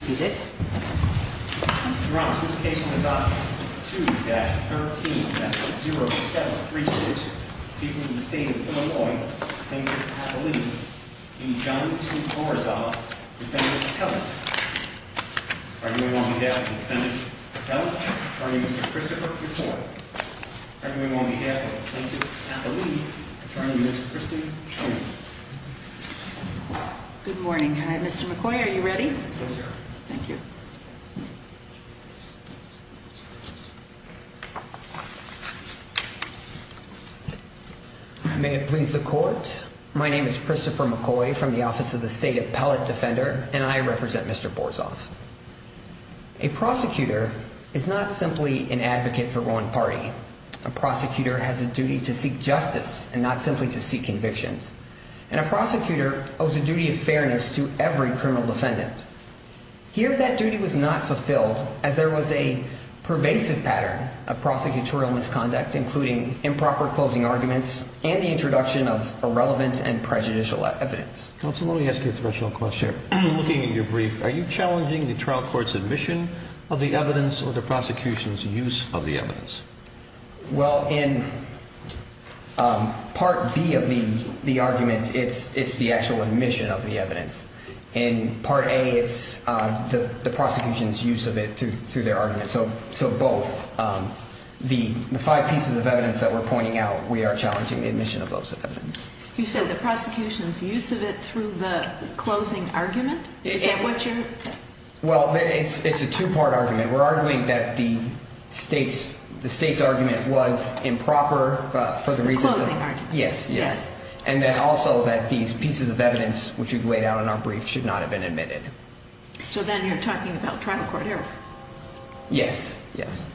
seated. You're on this case. Two that 13 0 7 3 6 people in the state of Illinois. He's John Borizov. Are you on behalf of the defendant? Everyone on behalf of turning this Good morning. Hi, Mr McCoy. Are you ready? Thank you. May it please the court. My name is Christopher McCoy from the Office of the State Appellate Defender and I represent Mr Borizov. A prosecutor is not simply an advocate for one party. A prosecutor has a duty to seek justice and not simply to seek convictions. And a prosecutor owes a duty of fairness to every criminal defendant. Here, that duty was not fulfilled as there was a pervasive pattern of prosecutorial misconduct, including improper closing arguments and the introduction of irrelevant and prejudicial evidence. Let me ask you a special question. Looking at your brief, are you challenging the trial court's admission of the evidence or the prosecution's use of the evidence? Well, in Part B of the argument, it's the actual admission of the evidence. In part A, it's the prosecution's use of it through their argument. So both. The five pieces of evidence that we're pointing out, we are challenging the admission of those evidence. You said the prosecution's use of it through the closing argument? Is that what you're... Well, it's a two-part argument. We're arguing that the state's argument was improper for the reasons of... The closing argument. Yes, yes. And then also that these pieces of evidence which we've laid out in our brief should not have been admitted. So then you're talking about trial court error? Yes, yes.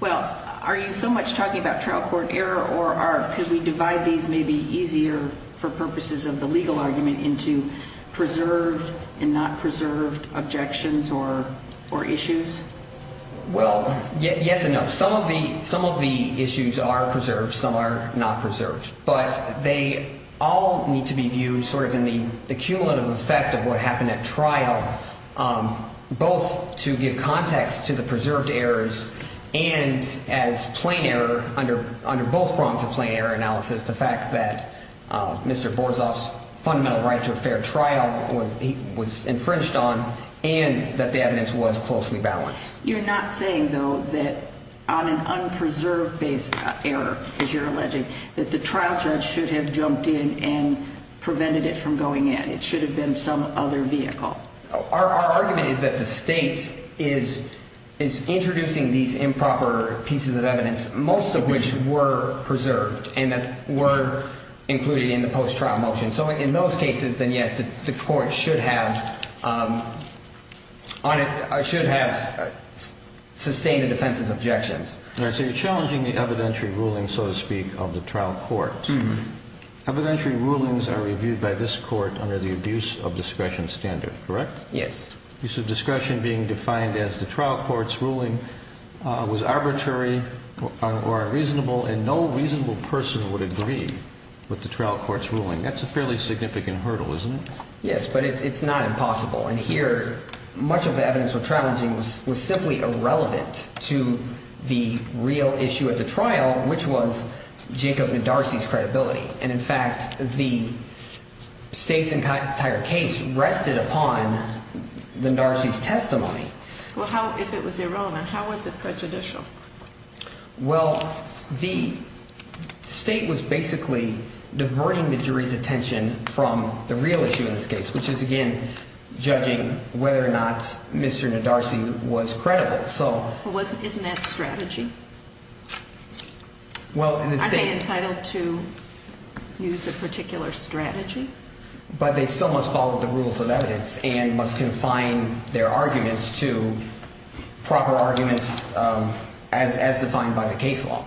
Well, are you so much talking about trial court error or are... Could we divide these maybe easier for purposes of the legal argument into preserved and not preserved objections or issues? Well, yes and no. Some of the issues are preserved. Some are not preserved. But they all need to be viewed sort of in the cumulative effect of what happened at trial, both to give context to the preserved errors and as plain error under both prongs of plain error analysis, the fact that Mr. Borzov's fundamental right to a fair trial was infringed on and that the evidence was closely balanced. You're not saying, though, that on an unpreserved base error, as you're going in, it should have been some other vehicle. Our argument is that the state is introducing these improper pieces of evidence, most of which were preserved and that were included in the post-trial motion. So in those cases, then yes, the court should have sustained the defense's objections. All right. So you're challenging the evidentiary ruling, so to speak, of the trial court. Evidentiary rulings are reviewed by this Court under the abuse of discretion standard, correct? Yes. Use of discretion being defined as the trial court's ruling was arbitrary or unreasonable and no reasonable person would agree with the trial court's ruling. That's a fairly significant hurdle, isn't it? Yes, but it's not impossible. And here, much of the evidence we're challenging was simply irrelevant to the real issue at the trial, which was Jacob Nedarcy's credibility. And in fact, the state's entire case rested upon Nedarcy's testimony. Well, if it was irrelevant, how was it prejudicial? Well, the state was basically diverting the jury's attention from the real issue in this case, which is, again, judging whether or not Mr. Nedarcy was credible. So isn't that strategy? Well, in the state... Are they entitled to use a particular strategy? But they still must follow the rules of evidence and must confine their arguments to proper arguments as defined by the case law.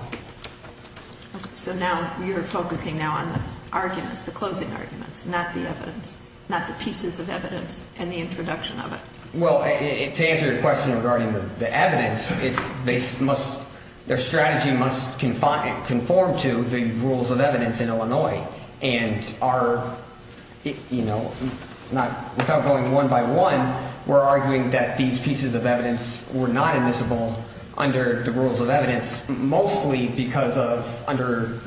So now you're focusing now on the arguments, the closing arguments, not the evidence, not the pieces of evidence and the introduction of it. Well, to answer your question regarding the evidence, their strategy must conform to the rules of evidence in Illinois. And without going one by one, we're arguing that these pieces of evidence were not admissible under the rules of evidence, mostly because of under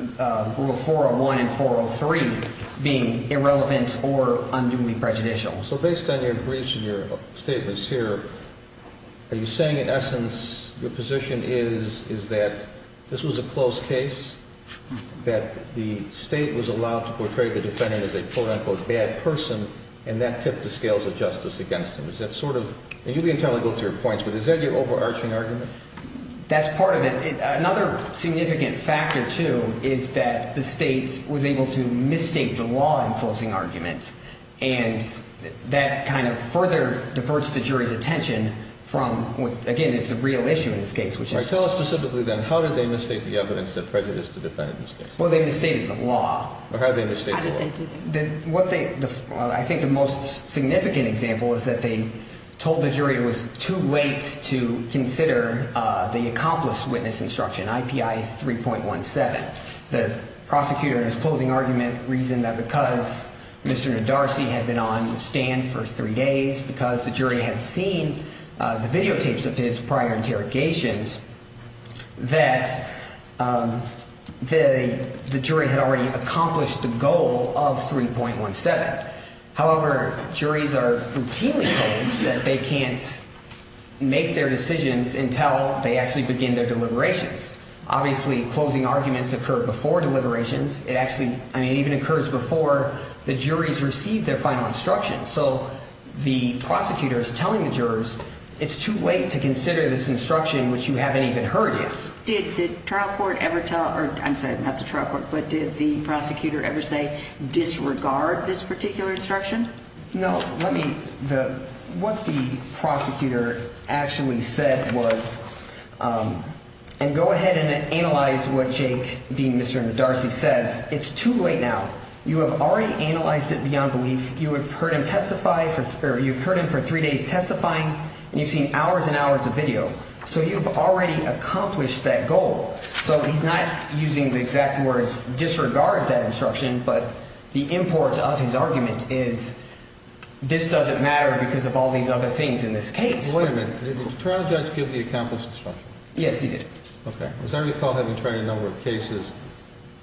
Rule 401 and 403 being irrelevant or unduly prejudicial. So based on your briefs and your statements here, are you saying, in essence, your position is that this was a closed case, that the state was allowed to portray the defendant as a quote-unquote bad person, and that tipped the scales of justice against them? Is that sort of... And you can totally go to your points, but is that your overarching argument? That's part of it. Another significant factor, too, is that the state was able to misstate the law in closing argument, and that kind of further diverts the jury's attention from what, again, is the real issue in this case, which is... All right, tell us specifically, then, how did they misstate the evidence that prejudiced the defendant in this case? Well, they misstated the law. Or how did they misstate the law? How did they do that? What they... I think the most significant example is that they told the jury it was too late to consider the accomplished witness instruction, IPI 3.17. The prosecutor in his closing argument reasoned that because Mr. Nodarcy had been on the stand for three days, because the jury had seen the videotapes of his prior interrogations, that the jury had already accomplished the goal of 3.17. However, juries are routinely told that they can't make their decisions until they actually begin their deliberations. Obviously, closing arguments occur before deliberations. It actually... I mean, it even occurs before the jury's received their final instruction. So the prosecutor is telling the jurors, it's too late to consider this instruction, which you haven't even heard yet. Did the trial court ever tell... I'm sorry, not the trial court, but did the prosecutor ever say, disregard this particular instruction? No. Let me... What the prosecutor actually said was... And go ahead and analyze what Jake, being Mr. Nodarcy, says. It's too late now. You have already analyzed it beyond belief. You have heard him testify for... You've heard him for three days testifying, and you've seen hours and hours of video. So you've already accomplished that goal. So he's not using the exact words, disregard that instruction, but the import of his argument is, this doesn't matter because of all these other things in this case. Wait a minute. Did the trial judge give the accomplished instruction? Yes, he did. Okay. As I recall, having tried a number of cases,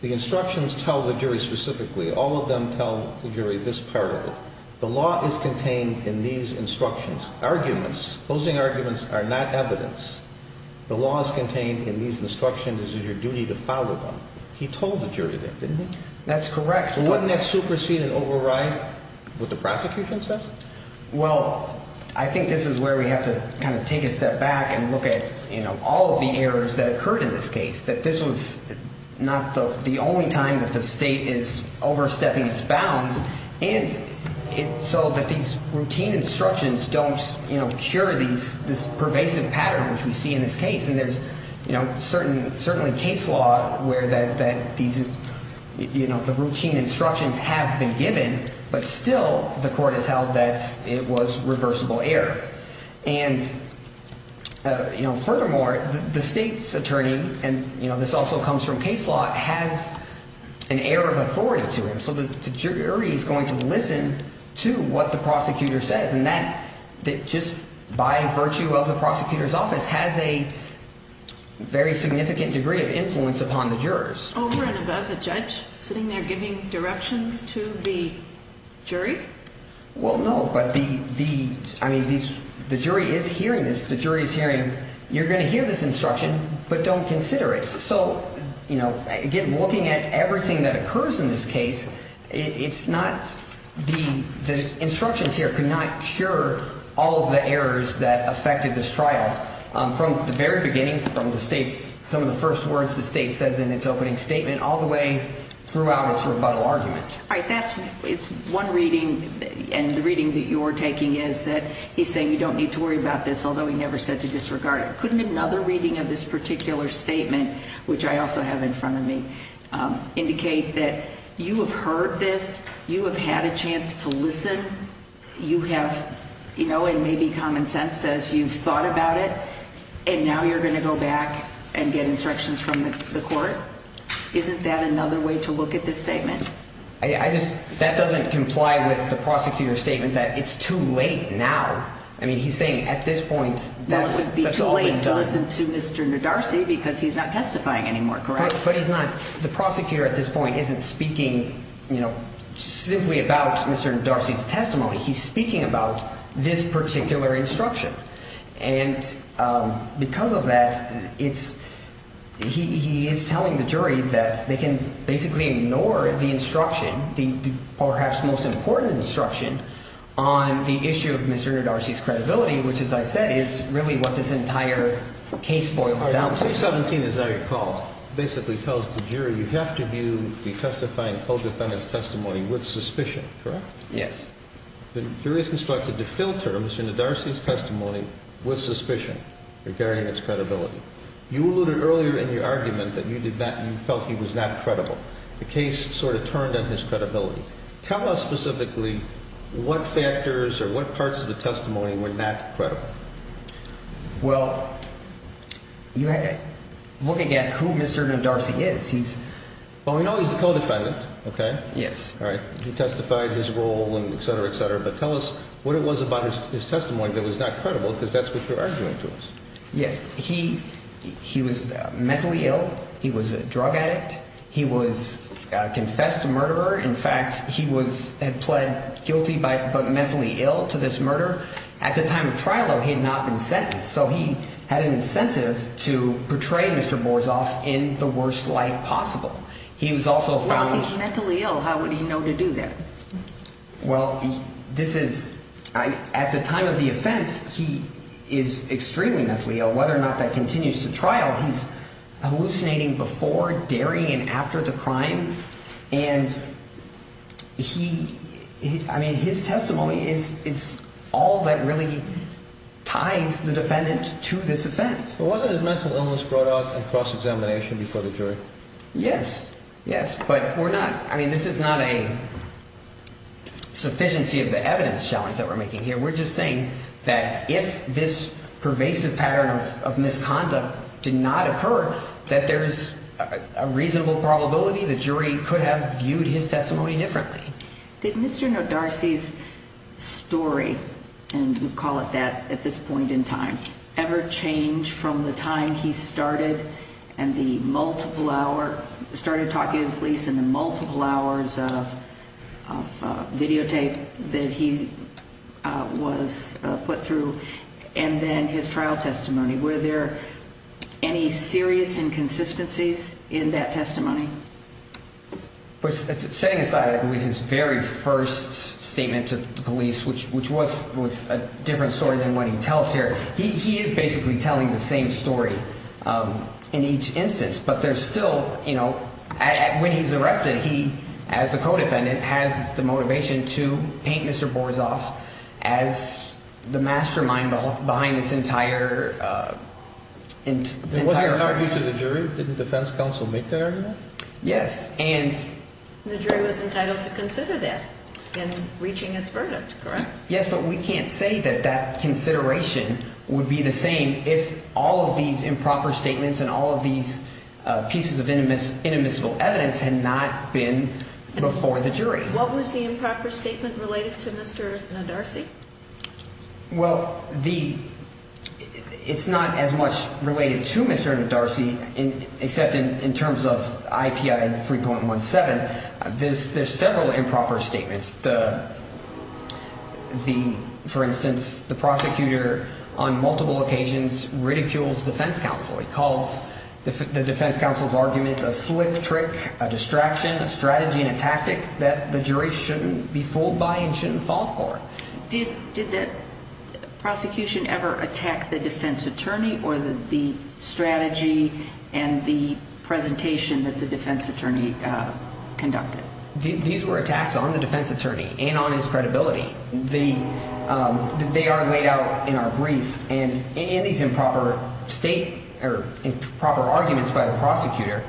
the instructions tell the jury specifically, all of them tell the jury this part of it. The law is contained in these instructions. Arguments, closing arguments are not evidence. The law is contained in these instructions. It is your duty to follow them. He told the jury that, didn't he? That's correct. Wouldn't that supersede and override what the prosecution says? Well, I think this is where we have to kind of take a step back and look at all of the errors that occurred in this case. That this was not the only time that the state is overstepping its bounds, and so that these routine instructions don't cure this pervasive pattern, which we see in this case. And there's certainly case law where the routine instructions have been given, but still the court has held that it was reversible error. And furthermore, the state's attorney, and this also comes from case law, has an air of authority to him. So the jury is going to listen to what the prosecutor says, and that just by virtue of the prosecutor's office has a very significant degree of influence upon the jurors. Over and above the judge, sitting there giving directions to the jury? Well, no, but the jury is hearing this. The jury is hearing, you're going to hear this instruction, but don't consider it. So, you know, again, looking at everything that occurs in this case, the instructions here could not cure all of the errors that affected this trial. From the very beginning, from some of the first words the state says in its opening statement, all the way throughout its rebuttal argument. All right, that's, it's one reading, and the reading that you're taking is that he's saying you don't need to worry about this, although he never said to disregard it. Couldn't another reading of this particular statement, which I also have in front of me, indicate that you have heard this, you have had a chance to listen, you have, you know, and maybe common sense says you've thought about it, and now you're going to go back and get instructions from the court? Isn't that another way to look at this statement? I just, that doesn't comply with the prosecutor's statement that it's too late now. I mean, he's saying at this point, that's all been done. Well, it wouldn't be too late to listen to Mr. Ndarsi because he's not testifying anymore, correct? But he's not, the prosecutor at this point isn't speaking, you know, simply about Mr. Ndarsi's testimony. He's speaking about this particular instruction. And because of that, it's, he is telling the jury that they can basically ignore the instruction, the perhaps most important instruction on the issue of Mr. Ndarsi's credibility, which, as I said, is really what this entire case boils down to. Article 317, as I recall, basically tells the jury you have to view the testifying co-defendant's testimony with suspicion, correct? Yes. The jury is instructed to fill Mr. Ndarsi's testimony with suspicion regarding its credibility. You alluded earlier in your argument that you did not, you felt he was not credible. The case sort of turned on his credibility. Tell us specifically what factors or what parts of the testimony were not credible. Well, you had to, looking at who Mr. Ndarsi is, he's... Well, we know he's the co-defendant, okay? Yes. All right, he testified his role and et cetera, et cetera. But tell us what it was about his testimony that was not credible because that's what you're arguing to us. Yes, he was mentally ill. He was a drug addict. He was a confessed murderer. In fact, he had pled guilty but mentally ill to this murder. At the time of trial, though, he had not been sentenced. So he had an incentive to portray Mr. Borzov in the worst light possible. He was also found... Well, if he's mentally ill, how would he know to do that? Well, this is... At the time of the offense, he is extremely mentally ill. Whether or not that continues to trial, he's hallucinating before, daring, and after the crime. And he... I mean, his testimony is all that really ties the defendant to this offense. But wasn't his mental illness brought out in cross-examination before the jury? Yes, yes. But we're not... I mean, this is not a sufficiency of the evidence challenge that we're making here. We're just saying that if this pervasive pattern of misconduct did not occur, that there's a reasonable probability the jury could have viewed his testimony differently. Did Mr. Nodarcy's story, and we call it that at this point in time, ever change from the time he started and the multiple hour... Started talking to the police and the multiple hours of videotape that he was put through and then his trial testimony? Were there any serious inconsistencies in that testimony? Setting aside, I believe, his very first statement to the police, which was a different story than what he tells here, he is basically telling the same story in each instance. But there's still... When he's arrested, he, as a co-defendant, has the motivation to paint Mr. Borzov as the mastermind behind this entire... There wasn't an argument to the jury? Didn't defense counsel make that argument? Yes, and... The jury was entitled to consider that in reaching its verdict, correct? Yes, but we can't say that that consideration would be the same if all of these improper statements and all of these pieces of inadmissible evidence had not been before the jury. What was the improper statement related to Mr. Nadarcy? Well, the... It's not as much related to Mr. Nadarcy except in terms of IPI 3.17. There's several improper statements. The... For instance, the prosecutor, on multiple occasions, ridicules defense counsel. He calls the defense counsel's argument a slick trick, a distraction, a strategy, and a tactic that the jury shouldn't be fooled by and shouldn't fall for. Did the prosecution ever attack the defense attorney or the strategy and the presentation that the defense attorney conducted? These were attacks on the defense attorney and on his credibility. They are laid out in our brief. And in these improper state... Or improper arguments by the prosecutor,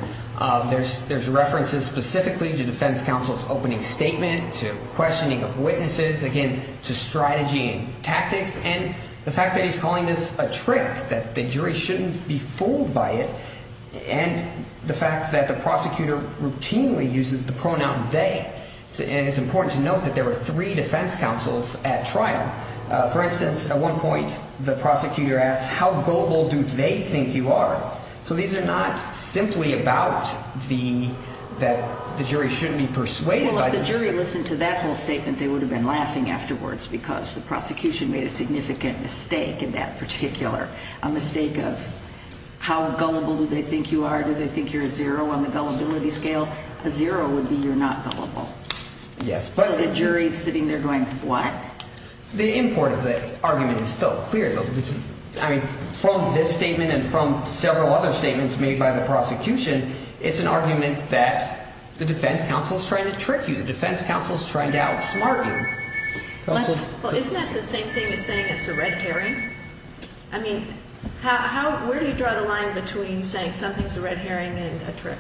there's references specifically to defense counsel's opening statement, to questioning of witnesses, again, to strategy and tactics, and the fact that he's calling this a trick, that the jury shouldn't be fooled by it, and the fact that the prosecutor routinely uses the pronoun they. And it's important to note that there were three defense counsels at trial. For instance, at one point, the prosecutor asked, how gullible do they think you are? So these are not simply about the... The jury shouldn't be persuaded by... Well, if the jury listened to that whole statement, they would have been laughing afterwards because the prosecution made a significant mistake in that particular... A mistake of how gullible do they think you are? Do they think you're a zero on the gullibility scale? A zero would be you're not gullible. Yes, but... So the jury's sitting there going, what? The import of the argument is still clear, though. I mean, from this statement and from several other statements made by the prosecution, it's an argument that the defense counsel is trying to trick you. The defense counsel is trying to outsmart you. Well, isn't that the same thing as saying it's a red herring? I mean, how... Where do you draw the line between saying something's a red herring and a trick?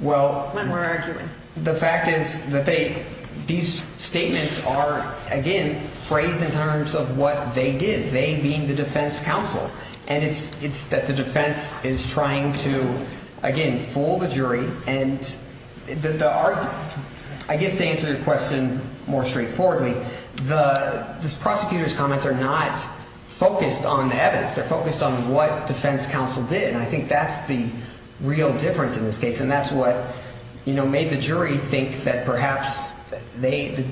Well... When we're arguing. The fact is that they... These statements are, again, phrased in terms of what they did. They being the defense counsel. And it's that the defense is trying to, again, fool the jury. And the argument... I guess to answer your question more straightforwardly, the prosecutor's comments are not focused on the evidence. They're focused on what defense counsel did. And I think that's the real difference in this case. And that's what, you know, made the jury think that perhaps they...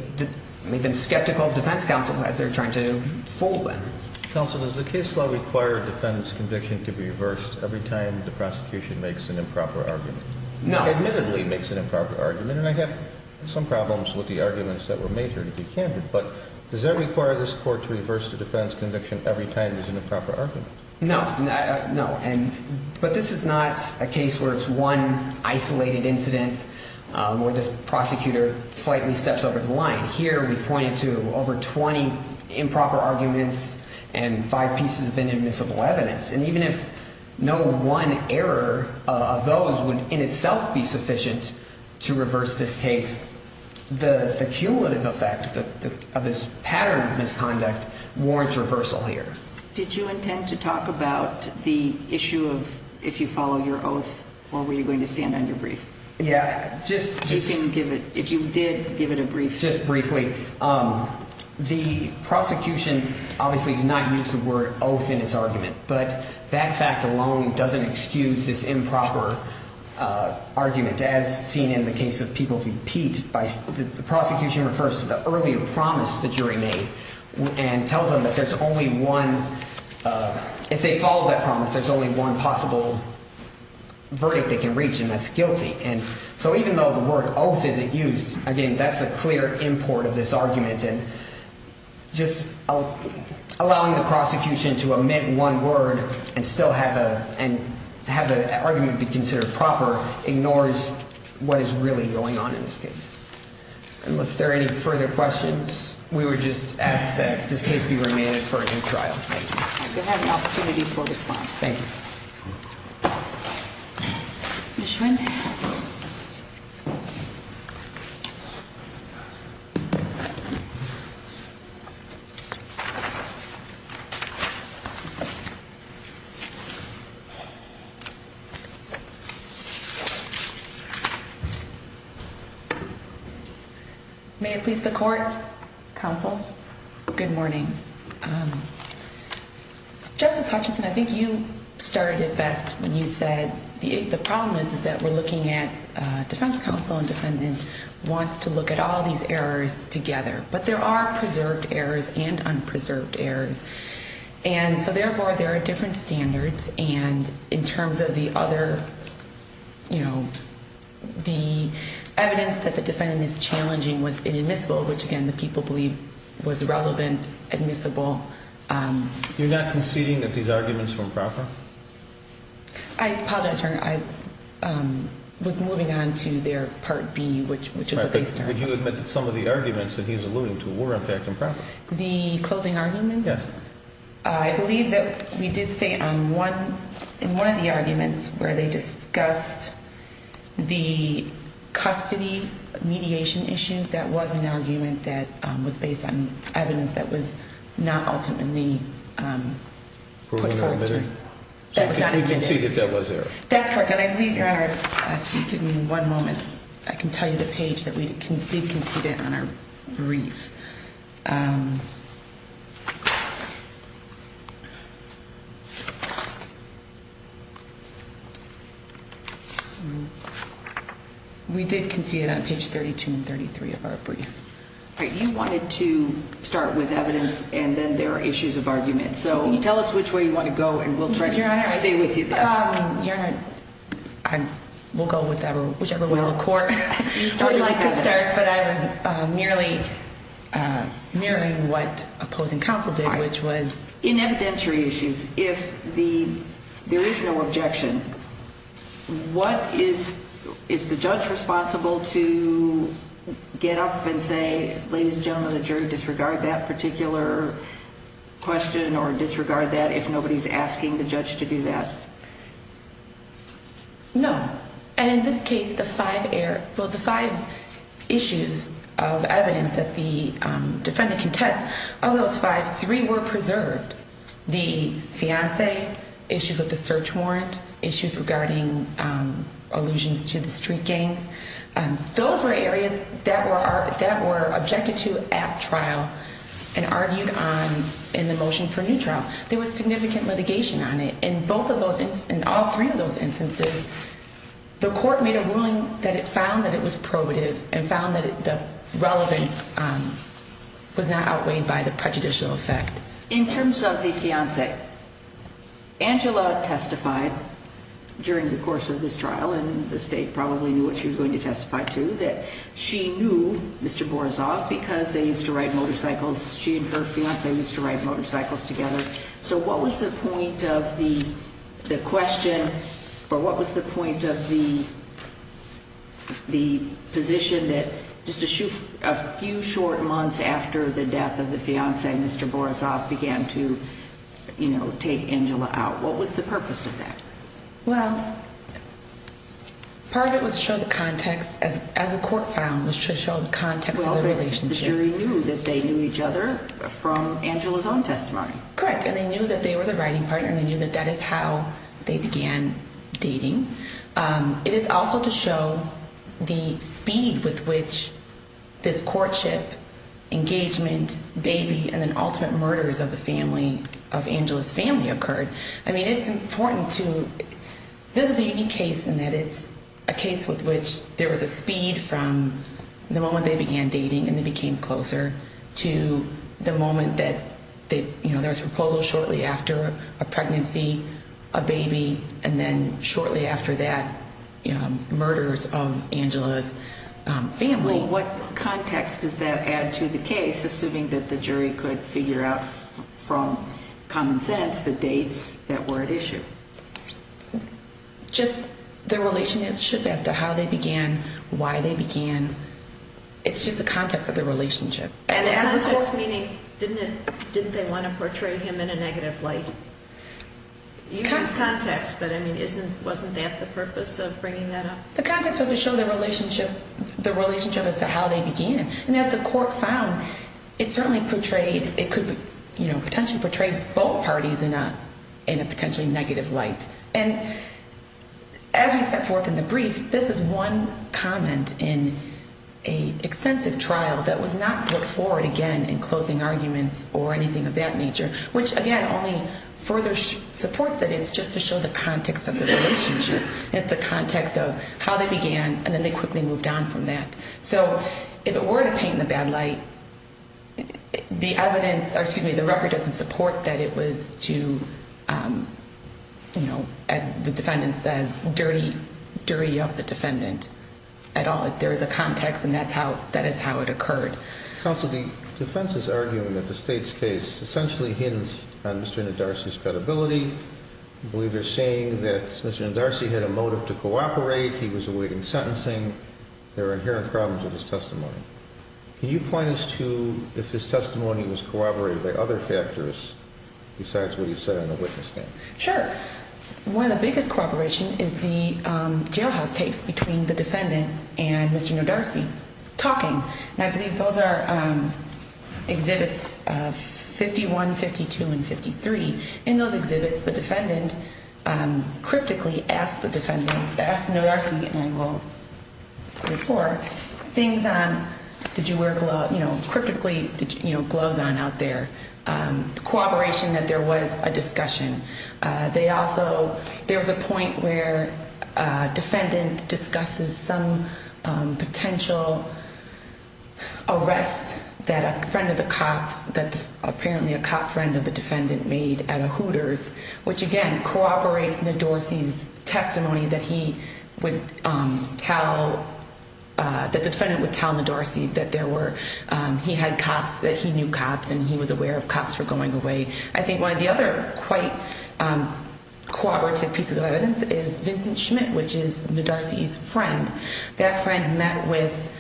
Made them skeptical of defense counsel as they're trying to fool them. Counsel, does the case law require a defendant's conviction to be reversed every time the prosecution makes an improper argument? No. Admittedly makes an improper argument. And I have some problems with the arguments that were made here, to be candid. But does that require this court to reverse the defendant's conviction every time there's an improper argument? No. No, and... But this is not a case where it's one isolated incident where the prosecutor slightly steps over the line. Here, we've pointed to over 20 improper arguments and five pieces of inadmissible evidence. And even if no one error of those would in itself be sufficient to reverse this case, the cumulative effect of this pattern of misconduct warrants reversal here. Did you intend to talk about the issue of if you follow your oath or were you going to stand on your brief? Yeah, just... You didn't give it... If you did give it a brief... Just briefly, the prosecution obviously does not use the word oath in its argument. But that fact alone doesn't excuse this improper argument as seen in the case of Peoples v. Pete. The prosecution refers to the earlier promise the jury made and tells them that there's only one... If they follow that promise, there's only one possible verdict they can reach and that's guilty. And so even though the word oath isn't used, again, that's a clear import of this argument. And just allowing the prosecution to omit one word and still have an argument be considered proper ignores what is really going on in this case. Unless there are any further questions, we would just ask that this case be remanded for a new trial. You have an opportunity for response. Thank you. Ms. Schwinn? May I please the court, counsel? Good morning. Justice Hutchinson, I think you started it best when you said the problem is that we're looking at defense counsel and defendant wants to look at all these errors together. But there are preserved errors and unpreserved errors. And so therefore, there are different standards. And in terms of the other, you know, the evidence that the defendant is challenging was inadmissible, which again, the people believe was relevant, admissible. I apologize, Your Honor. I was moving on to their Part B, which is the base term. But you admitted some of the arguments that he's alluding to were, in fact, improper. The closing arguments? Yes. I believe that we did stay on one. In one of the arguments where they discussed the custody mediation issue, that was an argument that was based on evidence that was not ultimately put forward. So you conceded that was error? That's correct. And I believe, Your Honor, if you could give me one moment, I can tell you the page that we did concede it on our brief. We did concede it on page 32 and 33 of our brief. You wanted to start with evidence, and then there are issues of argument. So tell us which way you want to go, and we'll try to stay with you. Your Honor, we'll go with whichever way the court would like to start. But I was mirroring what opposing counsel did, which was? In evidentiary issues, if there is no objection, is the judge responsible to get up and say, ladies and gentlemen, the jury disregard that particular question or disregard that if nobody's asking the judge to do that? No. And in this case, the five issues of evidence that the defendant contests, of those five, three were preserved. The fiance, issues with the search warrant, issues regarding allusions to the street gangs, those were areas that were objected to at trial and argued on in the motion for new trial. There was significant litigation on it. In both of those instances, in all three of those instances, the court made a ruling that it found that it was probative and found that the relevance was not outweighed by the prejudicial effect. In terms of the fiance, Angela testified during the course of this trial, and the state probably knew what she was going to testify to, that she knew Mr. Borisov because they used to ride motorcycles. She and her fiance used to ride motorcycles together. So what was the point of the question, or what was the point of the position that just a few short months after the death of the fiance, Mr. Borisov began to take Angela out? What was the purpose of that? Well, part of it was to show the context, as the court found, was to show the context of the relationship. So the jury knew that they knew each other from Angela's own testimony. Correct. And they knew that they were the riding partner, and they knew that that is how they began dating. It is also to show the speed with which this courtship, engagement, baby, and then ultimate murders of Angela's family occurred. I mean, it's important to, this is a unique case in that it's a case with which there was a speed from the moment they began dating, and they became closer, to the moment that there was a proposal shortly after a pregnancy, a baby, and then shortly after that, murders of Angela's family. What context does that add to the case, assuming that the jury could figure out from common sense the dates that were at issue? Just the relationship as to how they began, why they began. It's just the context of the relationship. And the context meaning, didn't they want to portray him in a negative light? You used context, but I mean, wasn't that the purpose of bringing that up? The context was to show the relationship as to how they began. And as the court found, it certainly portrayed, it could potentially portray both parties in a potentially negative light. And as we set forth in the brief, this is one comment in a extensive trial that was not put forward again in closing arguments or anything of that nature, which, again, only further supports that it's just to show the context of the relationship. It's the context of how they began, and then they quickly moved on from that. So if it were to paint in a bad light, the evidence, or excuse me, the record doesn't support that it was to, as the defendant says, dirty up the defendant at all. There is a context, and that is how it occurred. Counsel, the defense is arguing that the state's case essentially hints on Mr. Ndarsi's credibility. I believe they're saying that Mr. Ndarsi had a motive to cooperate. He was awake in sentencing. There are inherent problems with his testimony. Can you point us to if his testimony was corroborated by other factors besides what he said on the witness stand? Sure. One of the biggest cooperation is the jailhouse tapes between the defendant and Mr. Ndarsi talking. And I believe those are exhibits 51, 52, and 53. In those exhibits, the defendant cryptically asked the defendant, asked Ndarsi, and I will go before, things on, did you wear gloves, cryptically, did you have gloves on out there, cooperation that there was a discussion. They also, there was a point where a defendant discusses some potential arrest that a friend of the cop, that apparently a cop friend of the defendant made at a Hooters, which again, corroborates Ndarsi's testimony that he would tell, that the defendant would tell Ndarsi that there were, he had cops, that he knew cops and he was aware of cops for going away. I think one of the other quite cooperative pieces of evidence is Vincent Schmidt, which is Ndarsi's friend. That friend met with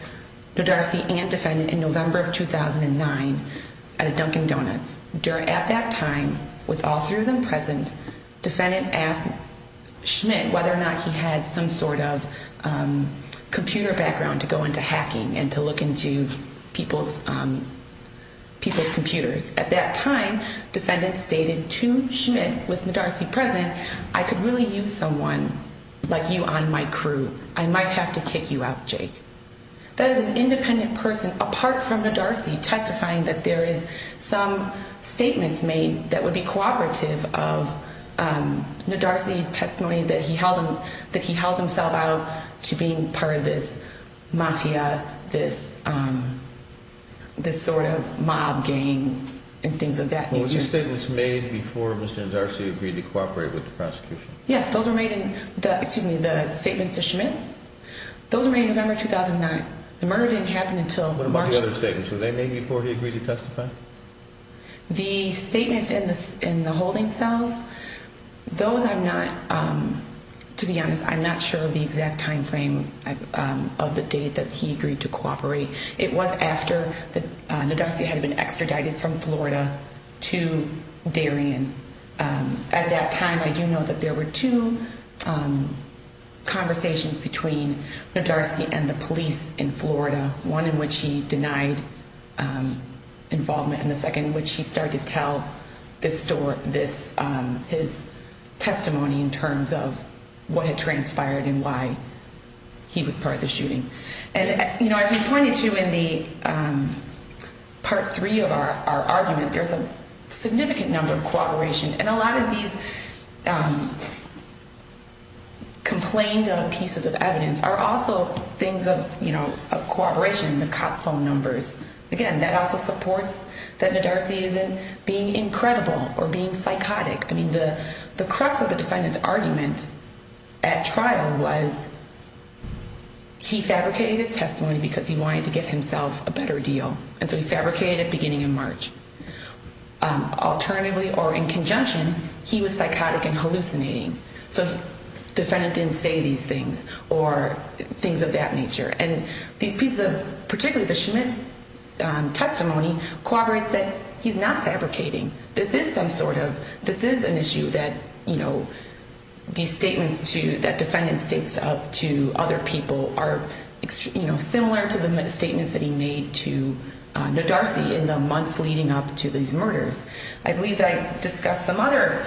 Ndarsi and defendant in November of 2009 at a Dunkin Donuts. At that time, with all three of them present, defendant asked Schmidt whether or not he had some sort of computer background to go into hacking and to look into people's computers. At that time, defendant stated to Schmidt, with Ndarsi present, I could really use someone like you on my crew. I might have to kick you out, Jake. That is an independent person apart from Ndarsi testifying that there is some statements made that would be cooperative of Ndarsi's testimony that he held himself out to being part of this mafia, this sort of mob gang and things of that nature. Were these statements made before Mr. Ndarsi agreed to cooperate with the prosecution? Yes, those were made in the statements to Schmidt. Those were made in November 2009. The murder didn't happen until March. What about the other statements? Were they made before he agreed to testify? The statements in the holding cells, those I'm not, to be honest, I'm not sure of the exact time frame of the date that he agreed to cooperate. It was after Ndarsi had been extradited from Florida to Darien. At that time, I do know that there were two conversations between Ndarsi and the police in Florida, one in which he denied involvement and the second in which he started to tell his testimony in terms of what had transpired and why he was part of the shooting. As we pointed to in the part three of our argument, there's a significant number of cooperation. And a lot of these complained on pieces of evidence are also things of cooperation, the cop phone numbers. Again, that also supports that Ndarsi isn't being incredible or being psychotic. I mean, the crux of the defendant's argument at trial was he fabricated his testimony because he wanted to get himself a better deal. And so he fabricated it beginning in March. Alternatively, or in conjunction, he was psychotic and hallucinating. So the defendant didn't say these things or things of that nature. And these pieces of, particularly the Schmidt testimony, corroborate that he's not fabricating. This is some sort of, this is an issue that these statements that defendant states up to other people are similar to the statements that he made to Ndarsi in the months leading up to these murders. I believe I discussed some other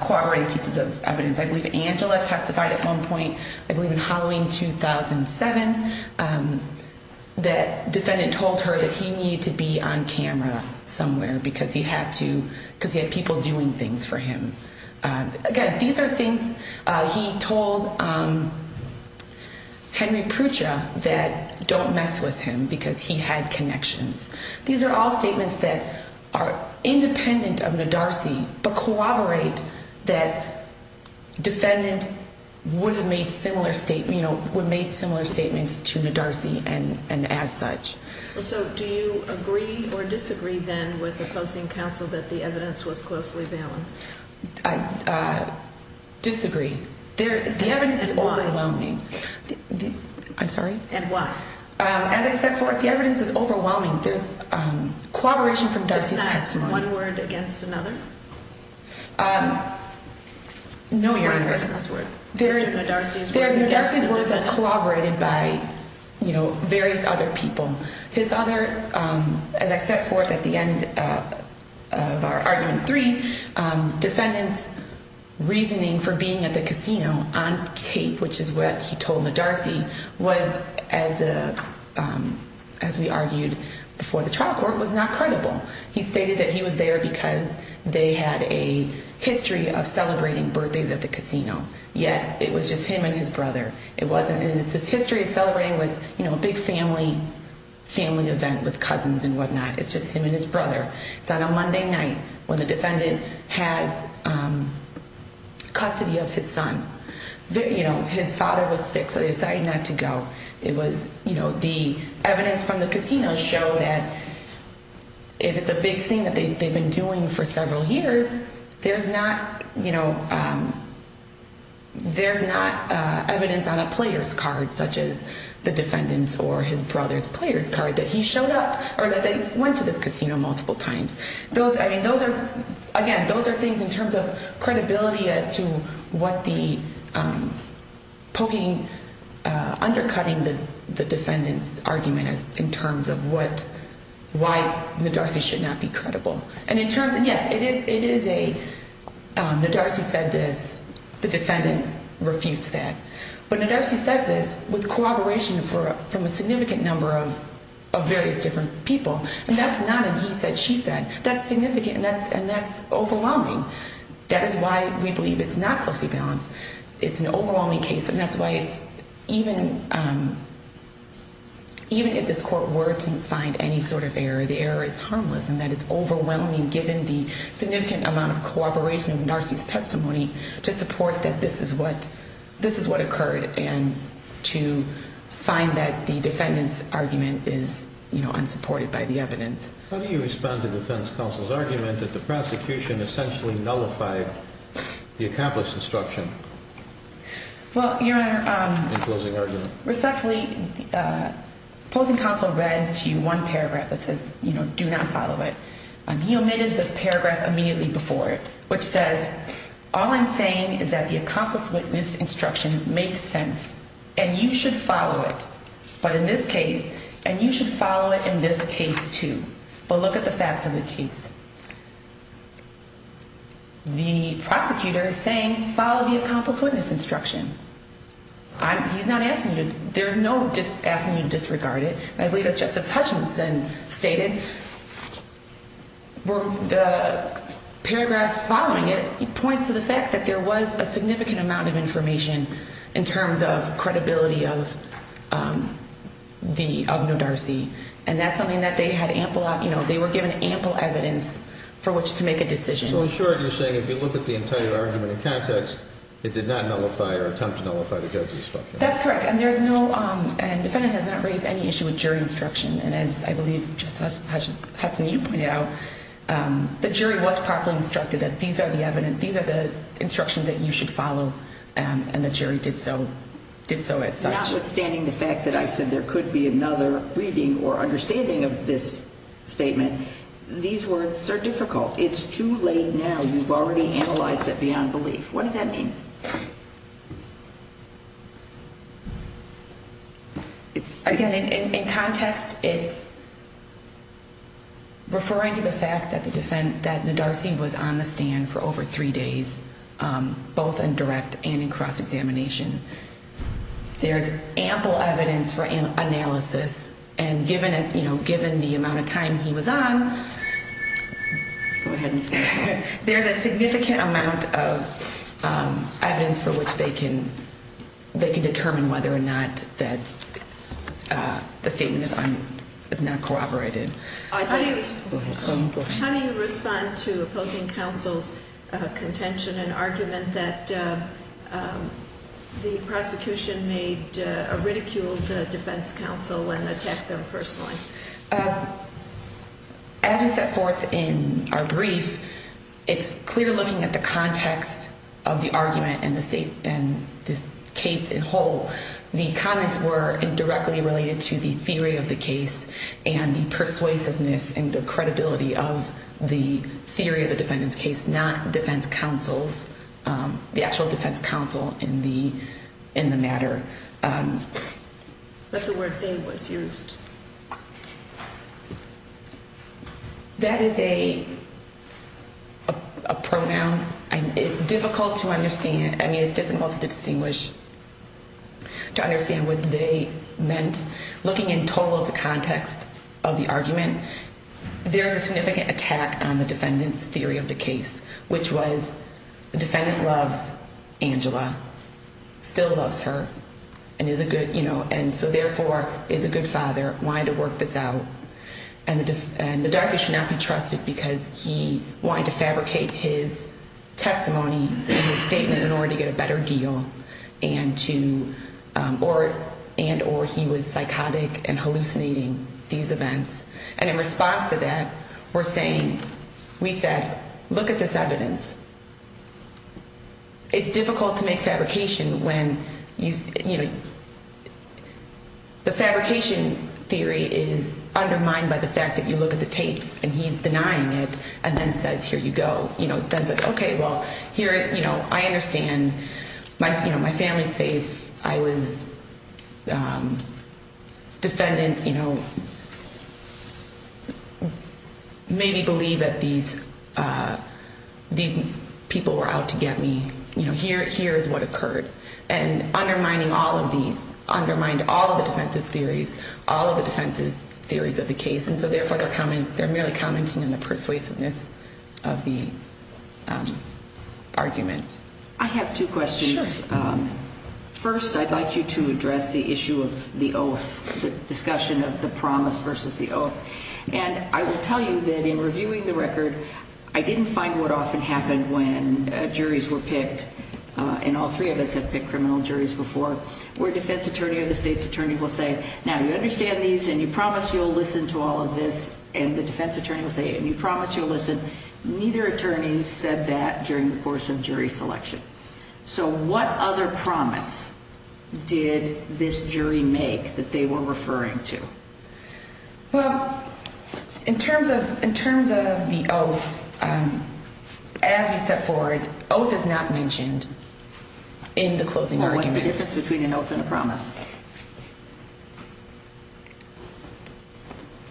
corroborating pieces of evidence. I believe Angela testified at one point, I believe in Halloween 2007, that defendant told her that he needed to be on camera somewhere because he had to, because he had people doing things for him. Again, these are things he told Henry Prucha that don't mess with him because he had connections. These are all statements that are independent of Ndarsi, but corroborate that defendant would have made similar statements, would have made similar statements to Ndarsi and as such. So do you agree or disagree then with opposing counsel that the evidence was closely balanced? I disagree. The evidence is overwhelming. I'm sorry? And why? As I set forth, the evidence is overwhelming. There's corroboration from Ndarsi's testimony. Isn't that one word against another? No, Your Honor. One person's word. There is Ndarsi's word that's corroborated by various other people. His other, as I set forth at the end of our argument three, defendant's reasoning for being at the casino on tape, which is what he told Ndarsi, was, as we argued before the trial court, was not credible. He stated that he was there because they had a history of celebrating birthdays at the casino, yet it was just him and his brother. It wasn't, and it's this history of celebrating with a big family event with cousins and whatnot. It's just him and his brother. It's on a Monday night when the defendant has custody of his son. His father was sick, so they decided not to go. The evidence from the casino showed that if it's a big thing that they've been doing for several years, there's not evidence on a player's card, such as the defendant's or his brother's player's card, that he showed up or that they went to this casino multiple times. Again, those are things in terms of credibility as to what the poking, undercutting the defendant's argument in terms of why Ndarsi should not be credible. And in terms of, yes, Ndarsi said this. The defendant refutes that. But Ndarsi says this with cooperation from a significant number of various different people. And that's not a he said, she said. That's significant, and that's overwhelming. That is why we believe it's not closely balanced. It's an overwhelming case, and that's why even if this court were to find any sort of error, the error is harmless in that it's overwhelming given the significant amount of cooperation of Ndarsi's testimony to support that this is what occurred and to find that the defendant's argument is unsupported by the evidence. How do you respond to defense counsel's argument that the prosecution essentially nullified the accomplished instruction? Well, Your Honor, respectfully, opposing counsel read to you one paragraph that says, do not follow it. He omitted the paragraph immediately before it, which says, all I'm saying is that the accomplished witness instruction makes sense, and you should follow it. But in this case, and you should follow it in this case, too. But look at the facts of the case. The prosecutor is saying, follow the accomplished witness instruction. He's not asking you to. There's no asking you to disregard it. I believe that's just as Hutchinson stated. The paragraph following it points to the fact that there was a significant amount of information in terms of credibility of Ndarsi. And that's something that they were given ample evidence for which to make a decision. So in short, you're saying if you look at the entire argument in context, it did not nullify or attempt to nullify the judge's instruction. That's correct. And the defendant has not raised any issue with jury instruction. And as I believe just as Hutchinson, you pointed out, the jury was properly instructed that these are the instructions that you should follow. And the jury did so as such. Notwithstanding the fact that I said there could be another reading or understanding of this statement, these words are difficult. It's too late now. You've already analyzed it beyond belief. What does that mean? Again, in context, it's referring to the fact that Ndarsi was on the stand for over three days, both in direct and in cross-examination. There's ample evidence for analysis. And given the amount of time he was on, there's a significant amount of evidence for which they can determine whether or not that the statement is not corroborated. How do you respond to opposing counsel's contention and argument that the prosecution made a ridiculed defense counsel and attacked them personally? As we set forth in our brief, it's in the case in whole. The comments were indirectly related to the theory of the case and the persuasiveness and the credibility of the theory of the defendant's case, not defense counsel's, the actual defense counsel in the matter. But the word they was used. That is a pronoun. And it's difficult to understand. I mean, it's difficult to distinguish, to understand what they meant. Looking in total at the context of the argument, there's a significant attack on the defendant's theory of the case, which was the defendant loves Angela, still loves her, and is a good, you know, and so therefore is a good father, wanting to work this out. And Ndarsi should not be trusted because he wanted to fabricate his testimony and his statement in order to get a better deal and to, and or he was psychotic and hallucinating these events. And in response to that, we're saying, we said, look at this evidence. It's difficult to make fabrication when, you know, the fabrication theory is undermined by the fact that you look at the tapes and he's denying it and then says, here you go. You know, then says, okay, well, here, you know, I understand my, you know, my family's safe. I was defendant, you know, maybe believe that these, these people were out to get me. You know, here, here is what occurred. And undermining all of these, undermined all of the defense's theories, all of the defense's theories of the case. And so therefore they're coming, they're merely commenting on the persuasiveness of the argument. I have two questions. First, I'd like you to address the issue of the oath, the discussion of the promise versus the oath. And I will tell you that in reviewing the record, I didn't find what often happened when juries were picked. And all three of us have picked criminal juries before, where defense attorney or the state's attorney will say, now you understand these and you promise you'll listen to all of this. And the defense attorney will say, and you promise you'll listen. Neither attorney said that during the course of jury selection. So what other promise did this jury make that they were referring to? Well, in terms of, in terms of the oath, as we step forward, oath is not mentioned in the closing argument. What's the difference between an oath and a promise?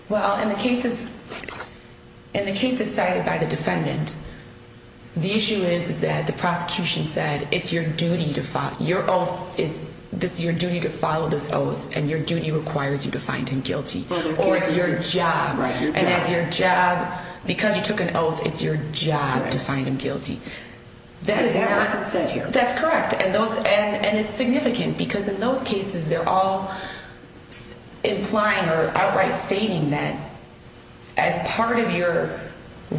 Well, in the cases, in the cases cited by the defendant, the issue is that the prosecution said it's your duty to follow, your oath is your duty to follow this oath, and your duty requires you to find him guilty. Or it's your job, and it's your job, because you took an oath, it's your job to find him guilty. But that wasn't said here. That's correct. And it's significant, because in those cases, they're all implying or outright stating that as part of your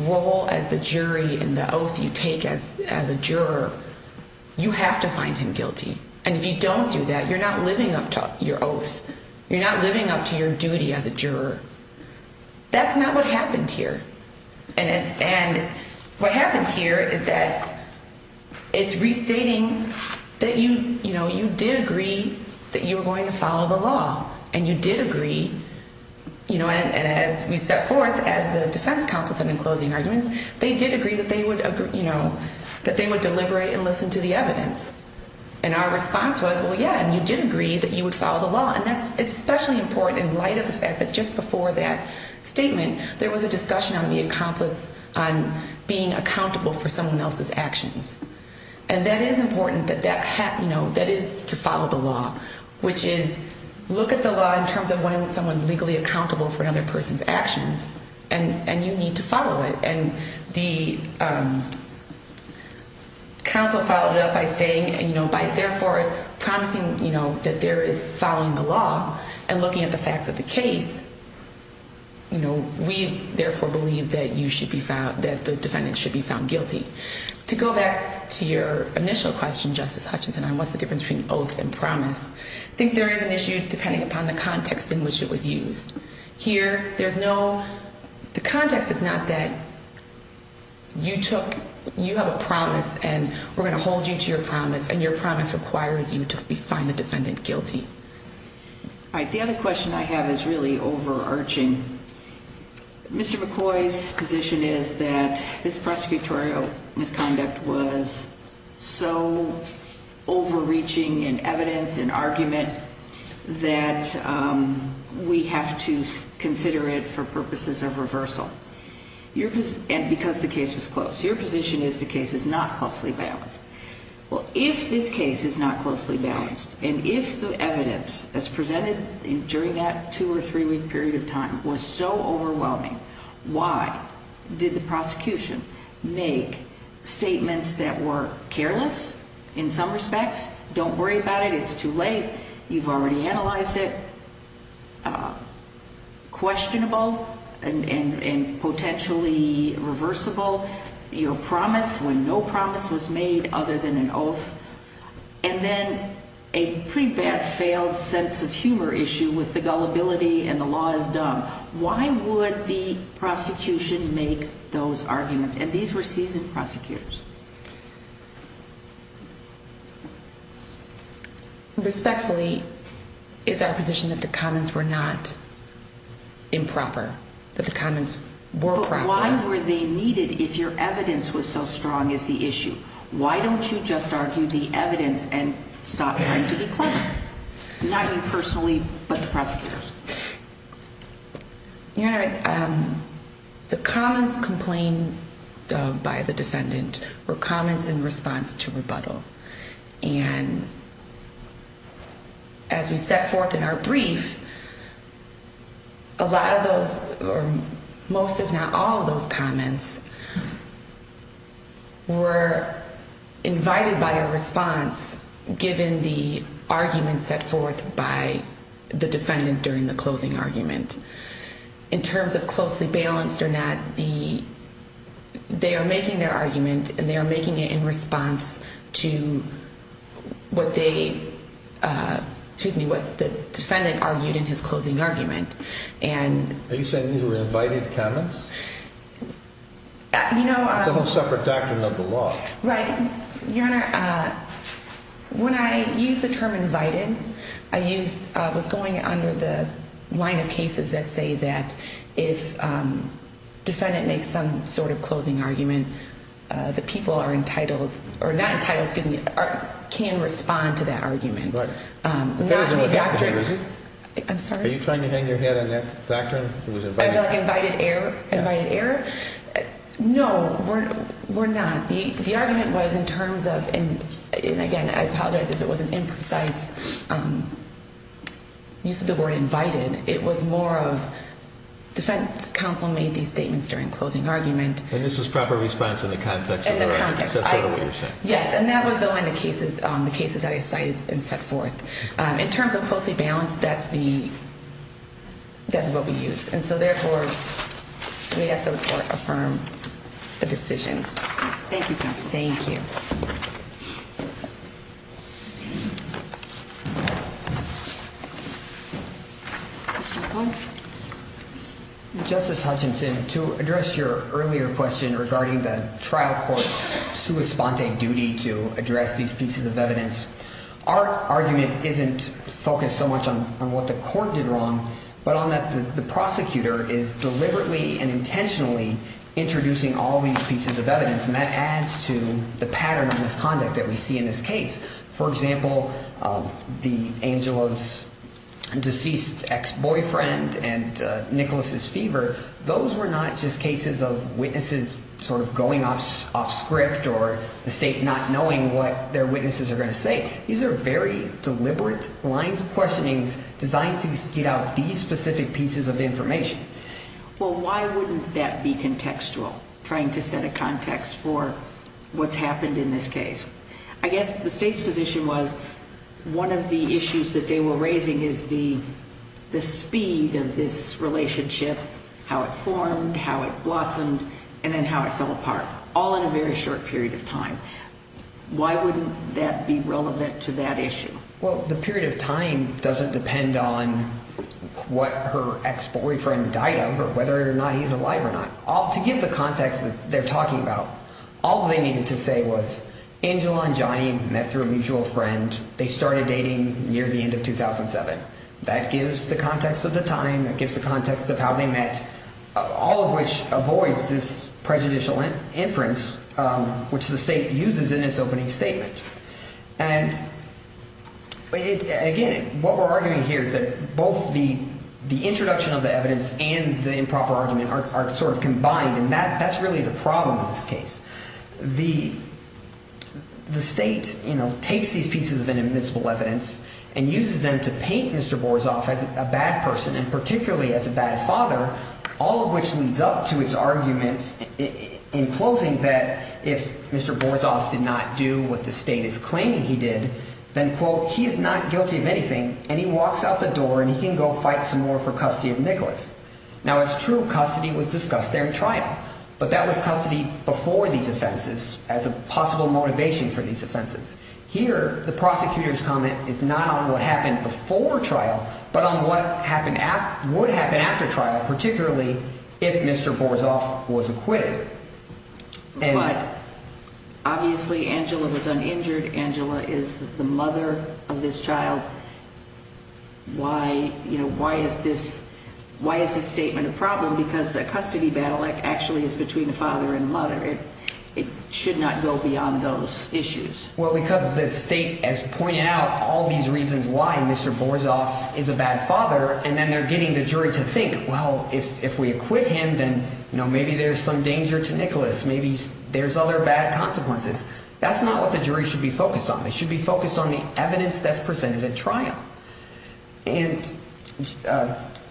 role as the jury and the oath you take as a juror, you have to find him guilty. And if you don't do that, you're not living up to your oath. You're not living up to your duty as a juror. That's not what happened here. And what happened here is that it's restating that you did agree that you were going to follow the law, and you did agree. And as we set forth, as the defense counsel said in closing arguments, they did agree that they would deliberate and listen to the evidence. And our response was, well, yeah, and you did agree that you would follow the law. And that's especially important in light of the fact that just before that statement, there was a discussion on being accountable for someone else's actions. And that is important, that that is to follow the law, which is look at the law in terms of when someone is legally accountable for another person's actions, and you need to follow it. And the counsel followed it up by saying, by therefore promising that there is following the law and looking at the facts of the case, we therefore believe that the defendant should be found guilty. To go back to your initial question, Justice Hutchinson, on what's the difference between oath and promise, I think there is an issue depending upon the context in which it was used. Here, the context is not that you have a promise, and we're going to hold you to your promise, and your promise requires you to find the defendant guilty. All right, the other question I have is really overarching. Mr. McCoy's position is that this prosecutorial misconduct was so overreaching in evidence and argument that we have to consider it for purposes of reversal, and because the case was closed. Your position is the case is not closely balanced. Well, if this case is not closely balanced, and if the evidence that's presented during that 2- or 3-week period of time was so overwhelming, why did the prosecution make statements that were careless in some respects, don't worry about it, it's too late, you've already analyzed it, questionable, and potentially reversible. Your promise when no promise was made other than an oath, and then a pretty bad failed sense of humor issue with the gullibility and the law is dumb. Why would the prosecution make those arguments? And these were seasoned prosecutors. Respectfully, it's our position that the comments were not improper, that the comments were proper. Why were they needed if your evidence was so strong as the issue? Why don't you just argue the evidence and stop trying to be clever? Not you personally, but the prosecutors. Your Honor, the comments complained of by the defendant were comments in response to rebuttal, and as we set forth in our brief, a lot of those, or most if not all of those comments, were invited by a response given the argument set forth by the defendant during the closing argument. In terms of closely balanced or not, they are making their argument and they are making it in response to what the defendant argued in his closing argument. Are you saying these were invited comments? It's a whole separate doctrine of the law. Right. Your Honor, when I use the term invited, I was going under the line of cases that say that if a defendant makes some sort of closing argument, the people are entitled, or not entitled, excuse me, can respond to that argument. But that isn't what happened, is it? I'm sorry? Are you trying to hang your head on that doctrine? I feel like invited error? No, we're not. The argument was in terms of, and again, I apologize if it was an imprecise use of the word invited. It was more of defense counsel made these statements during closing argument. And this was proper response in the context of the argument? In the context. That's sort of what you're saying. Yes, and that was though in the cases that I cited and set forth. In terms of closely balanced, that's what we use. And so, therefore, we ask that the court affirm the decision. Thank you, counsel. Thank you. Mr. O'Connor. Justice Hutchinson, to address your earlier question regarding the trial court's sua sponte duty to address these pieces of evidence, our argument isn't focused so much on what the court did wrong, but on that the prosecutor is deliberately and intentionally introducing all these pieces of evidence, and that adds to the pattern of misconduct that we see in this case. For example, Angela's deceased ex-boyfriend and Nicholas's fever, those were not just cases of witnesses sort of going off script or the state not knowing what their witnesses are going to say. These are very deliberate lines of questionings designed to get out these specific pieces of information. Well, why wouldn't that be contextual, trying to set a context for what's happened in this case? I guess the state's position was one of the issues that they were raising is the speed of this relationship, how it formed, how it blossomed, and then how it fell apart, all in a very short period of time. Why wouldn't that be relevant to that issue? Well, the period of time doesn't depend on what her ex-boyfriend died of or whether or not he's alive or not. To give the context that they're talking about, all they needed to say was Angela and Johnny met through a mutual friend. They started dating near the end of 2007. That gives the context of the time. That gives the context of how they met, all of which avoids this prejudicial inference, which the state uses in its opening statement. And again, what we're arguing here is that both the introduction of the evidence and the improper argument are sort of combined, and that's really the problem in this case. The state takes these pieces of inadmissible evidence and uses them to paint Mr. Borzov as a bad person, and particularly as a bad father, all of which leads up to its argument in closing that if Mr. Borzov did not do what the state is claiming he did, then, quote, he is not guilty of anything, and he walks out the door and he can go fight some more for custody of Nicholas. Now, it's true custody was discussed there in trial, but that was custody before these offenses as a possible motivation for these offenses. Here, the prosecutor's comment is not on what happened before trial but on what would happen after trial, particularly if Mr. Borzov was acquitted. But obviously Angela was uninjured. Angela is the mother of this child. Why is this statement a problem? Because the custody battle actually is between the father and mother. It should not go beyond those issues. Well, because the state has pointed out all these reasons why Mr. Borzov is a bad father, and then they're getting the jury to think, well, if we acquit him, then maybe there's some danger to Nicholas. Maybe there's other bad consequences. That's not what the jury should be focused on. They should be focused on the evidence that's presented in trial. And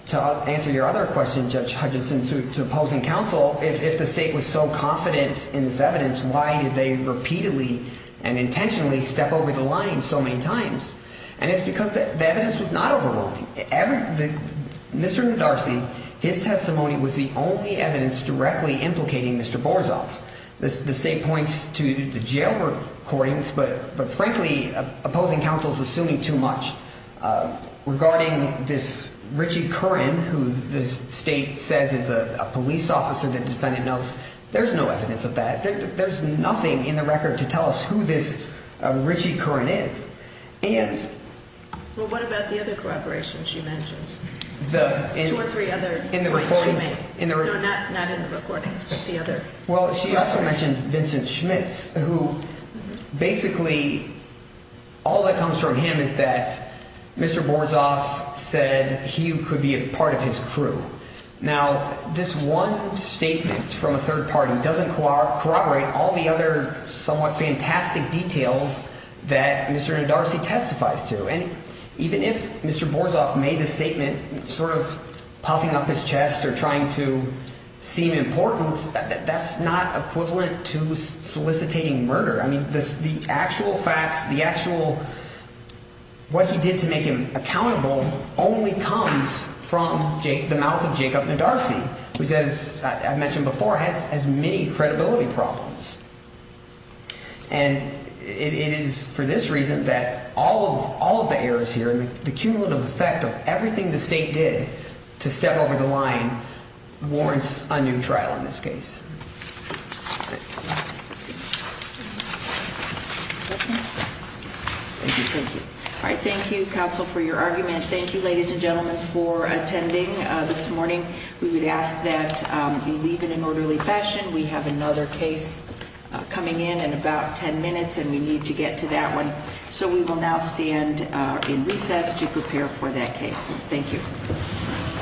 to answer your other question, Judge Hutchinson, to opposing counsel, if the state was so confident in this evidence, why did they repeatedly and intentionally step over the line so many times? And it's because the evidence was not overwhelming. Mr. Nodarcy, his testimony was the only evidence directly implicating Mr. Borzov. The state points to the jail recordings, but, frankly, opposing counsel is assuming too much. Regarding this Richie Curran, who the state says is a police officer, the defendant knows there's no evidence of that. There's nothing in the record to tell us who this Richie Curran is. Well, what about the other corroboration she mentions? Two or three other points she made. No, not in the recordings, but the other. Well, she also mentioned Vincent Schmitz, who basically all that comes from him is that Mr. Borzov said he could be a part of his crew. Now, this one statement from a third party doesn't corroborate all the other somewhat fantastic details that Mr. Nodarcy testifies to. And even if Mr. Borzov made a statement sort of puffing up his chest or trying to seem important, that's not equivalent to solicitating murder. I mean, the actual facts, the actual what he did to make him accountable only comes from the mouth of Jacob Nodarcy, which, as I mentioned before, has many credibility problems. And it is for this reason that all of the errors here and the cumulative effect of everything the state did to step over the line warrants a new trial in this case. Thank you. All right. Thank you, counsel, for your argument. Thank you, ladies and gentlemen, for attending this morning. We would ask that you leave in an orderly fashion. We have another case coming in in about ten minutes, and we need to get to that one. So we will now stand in recess to prepare for that case. Thank you.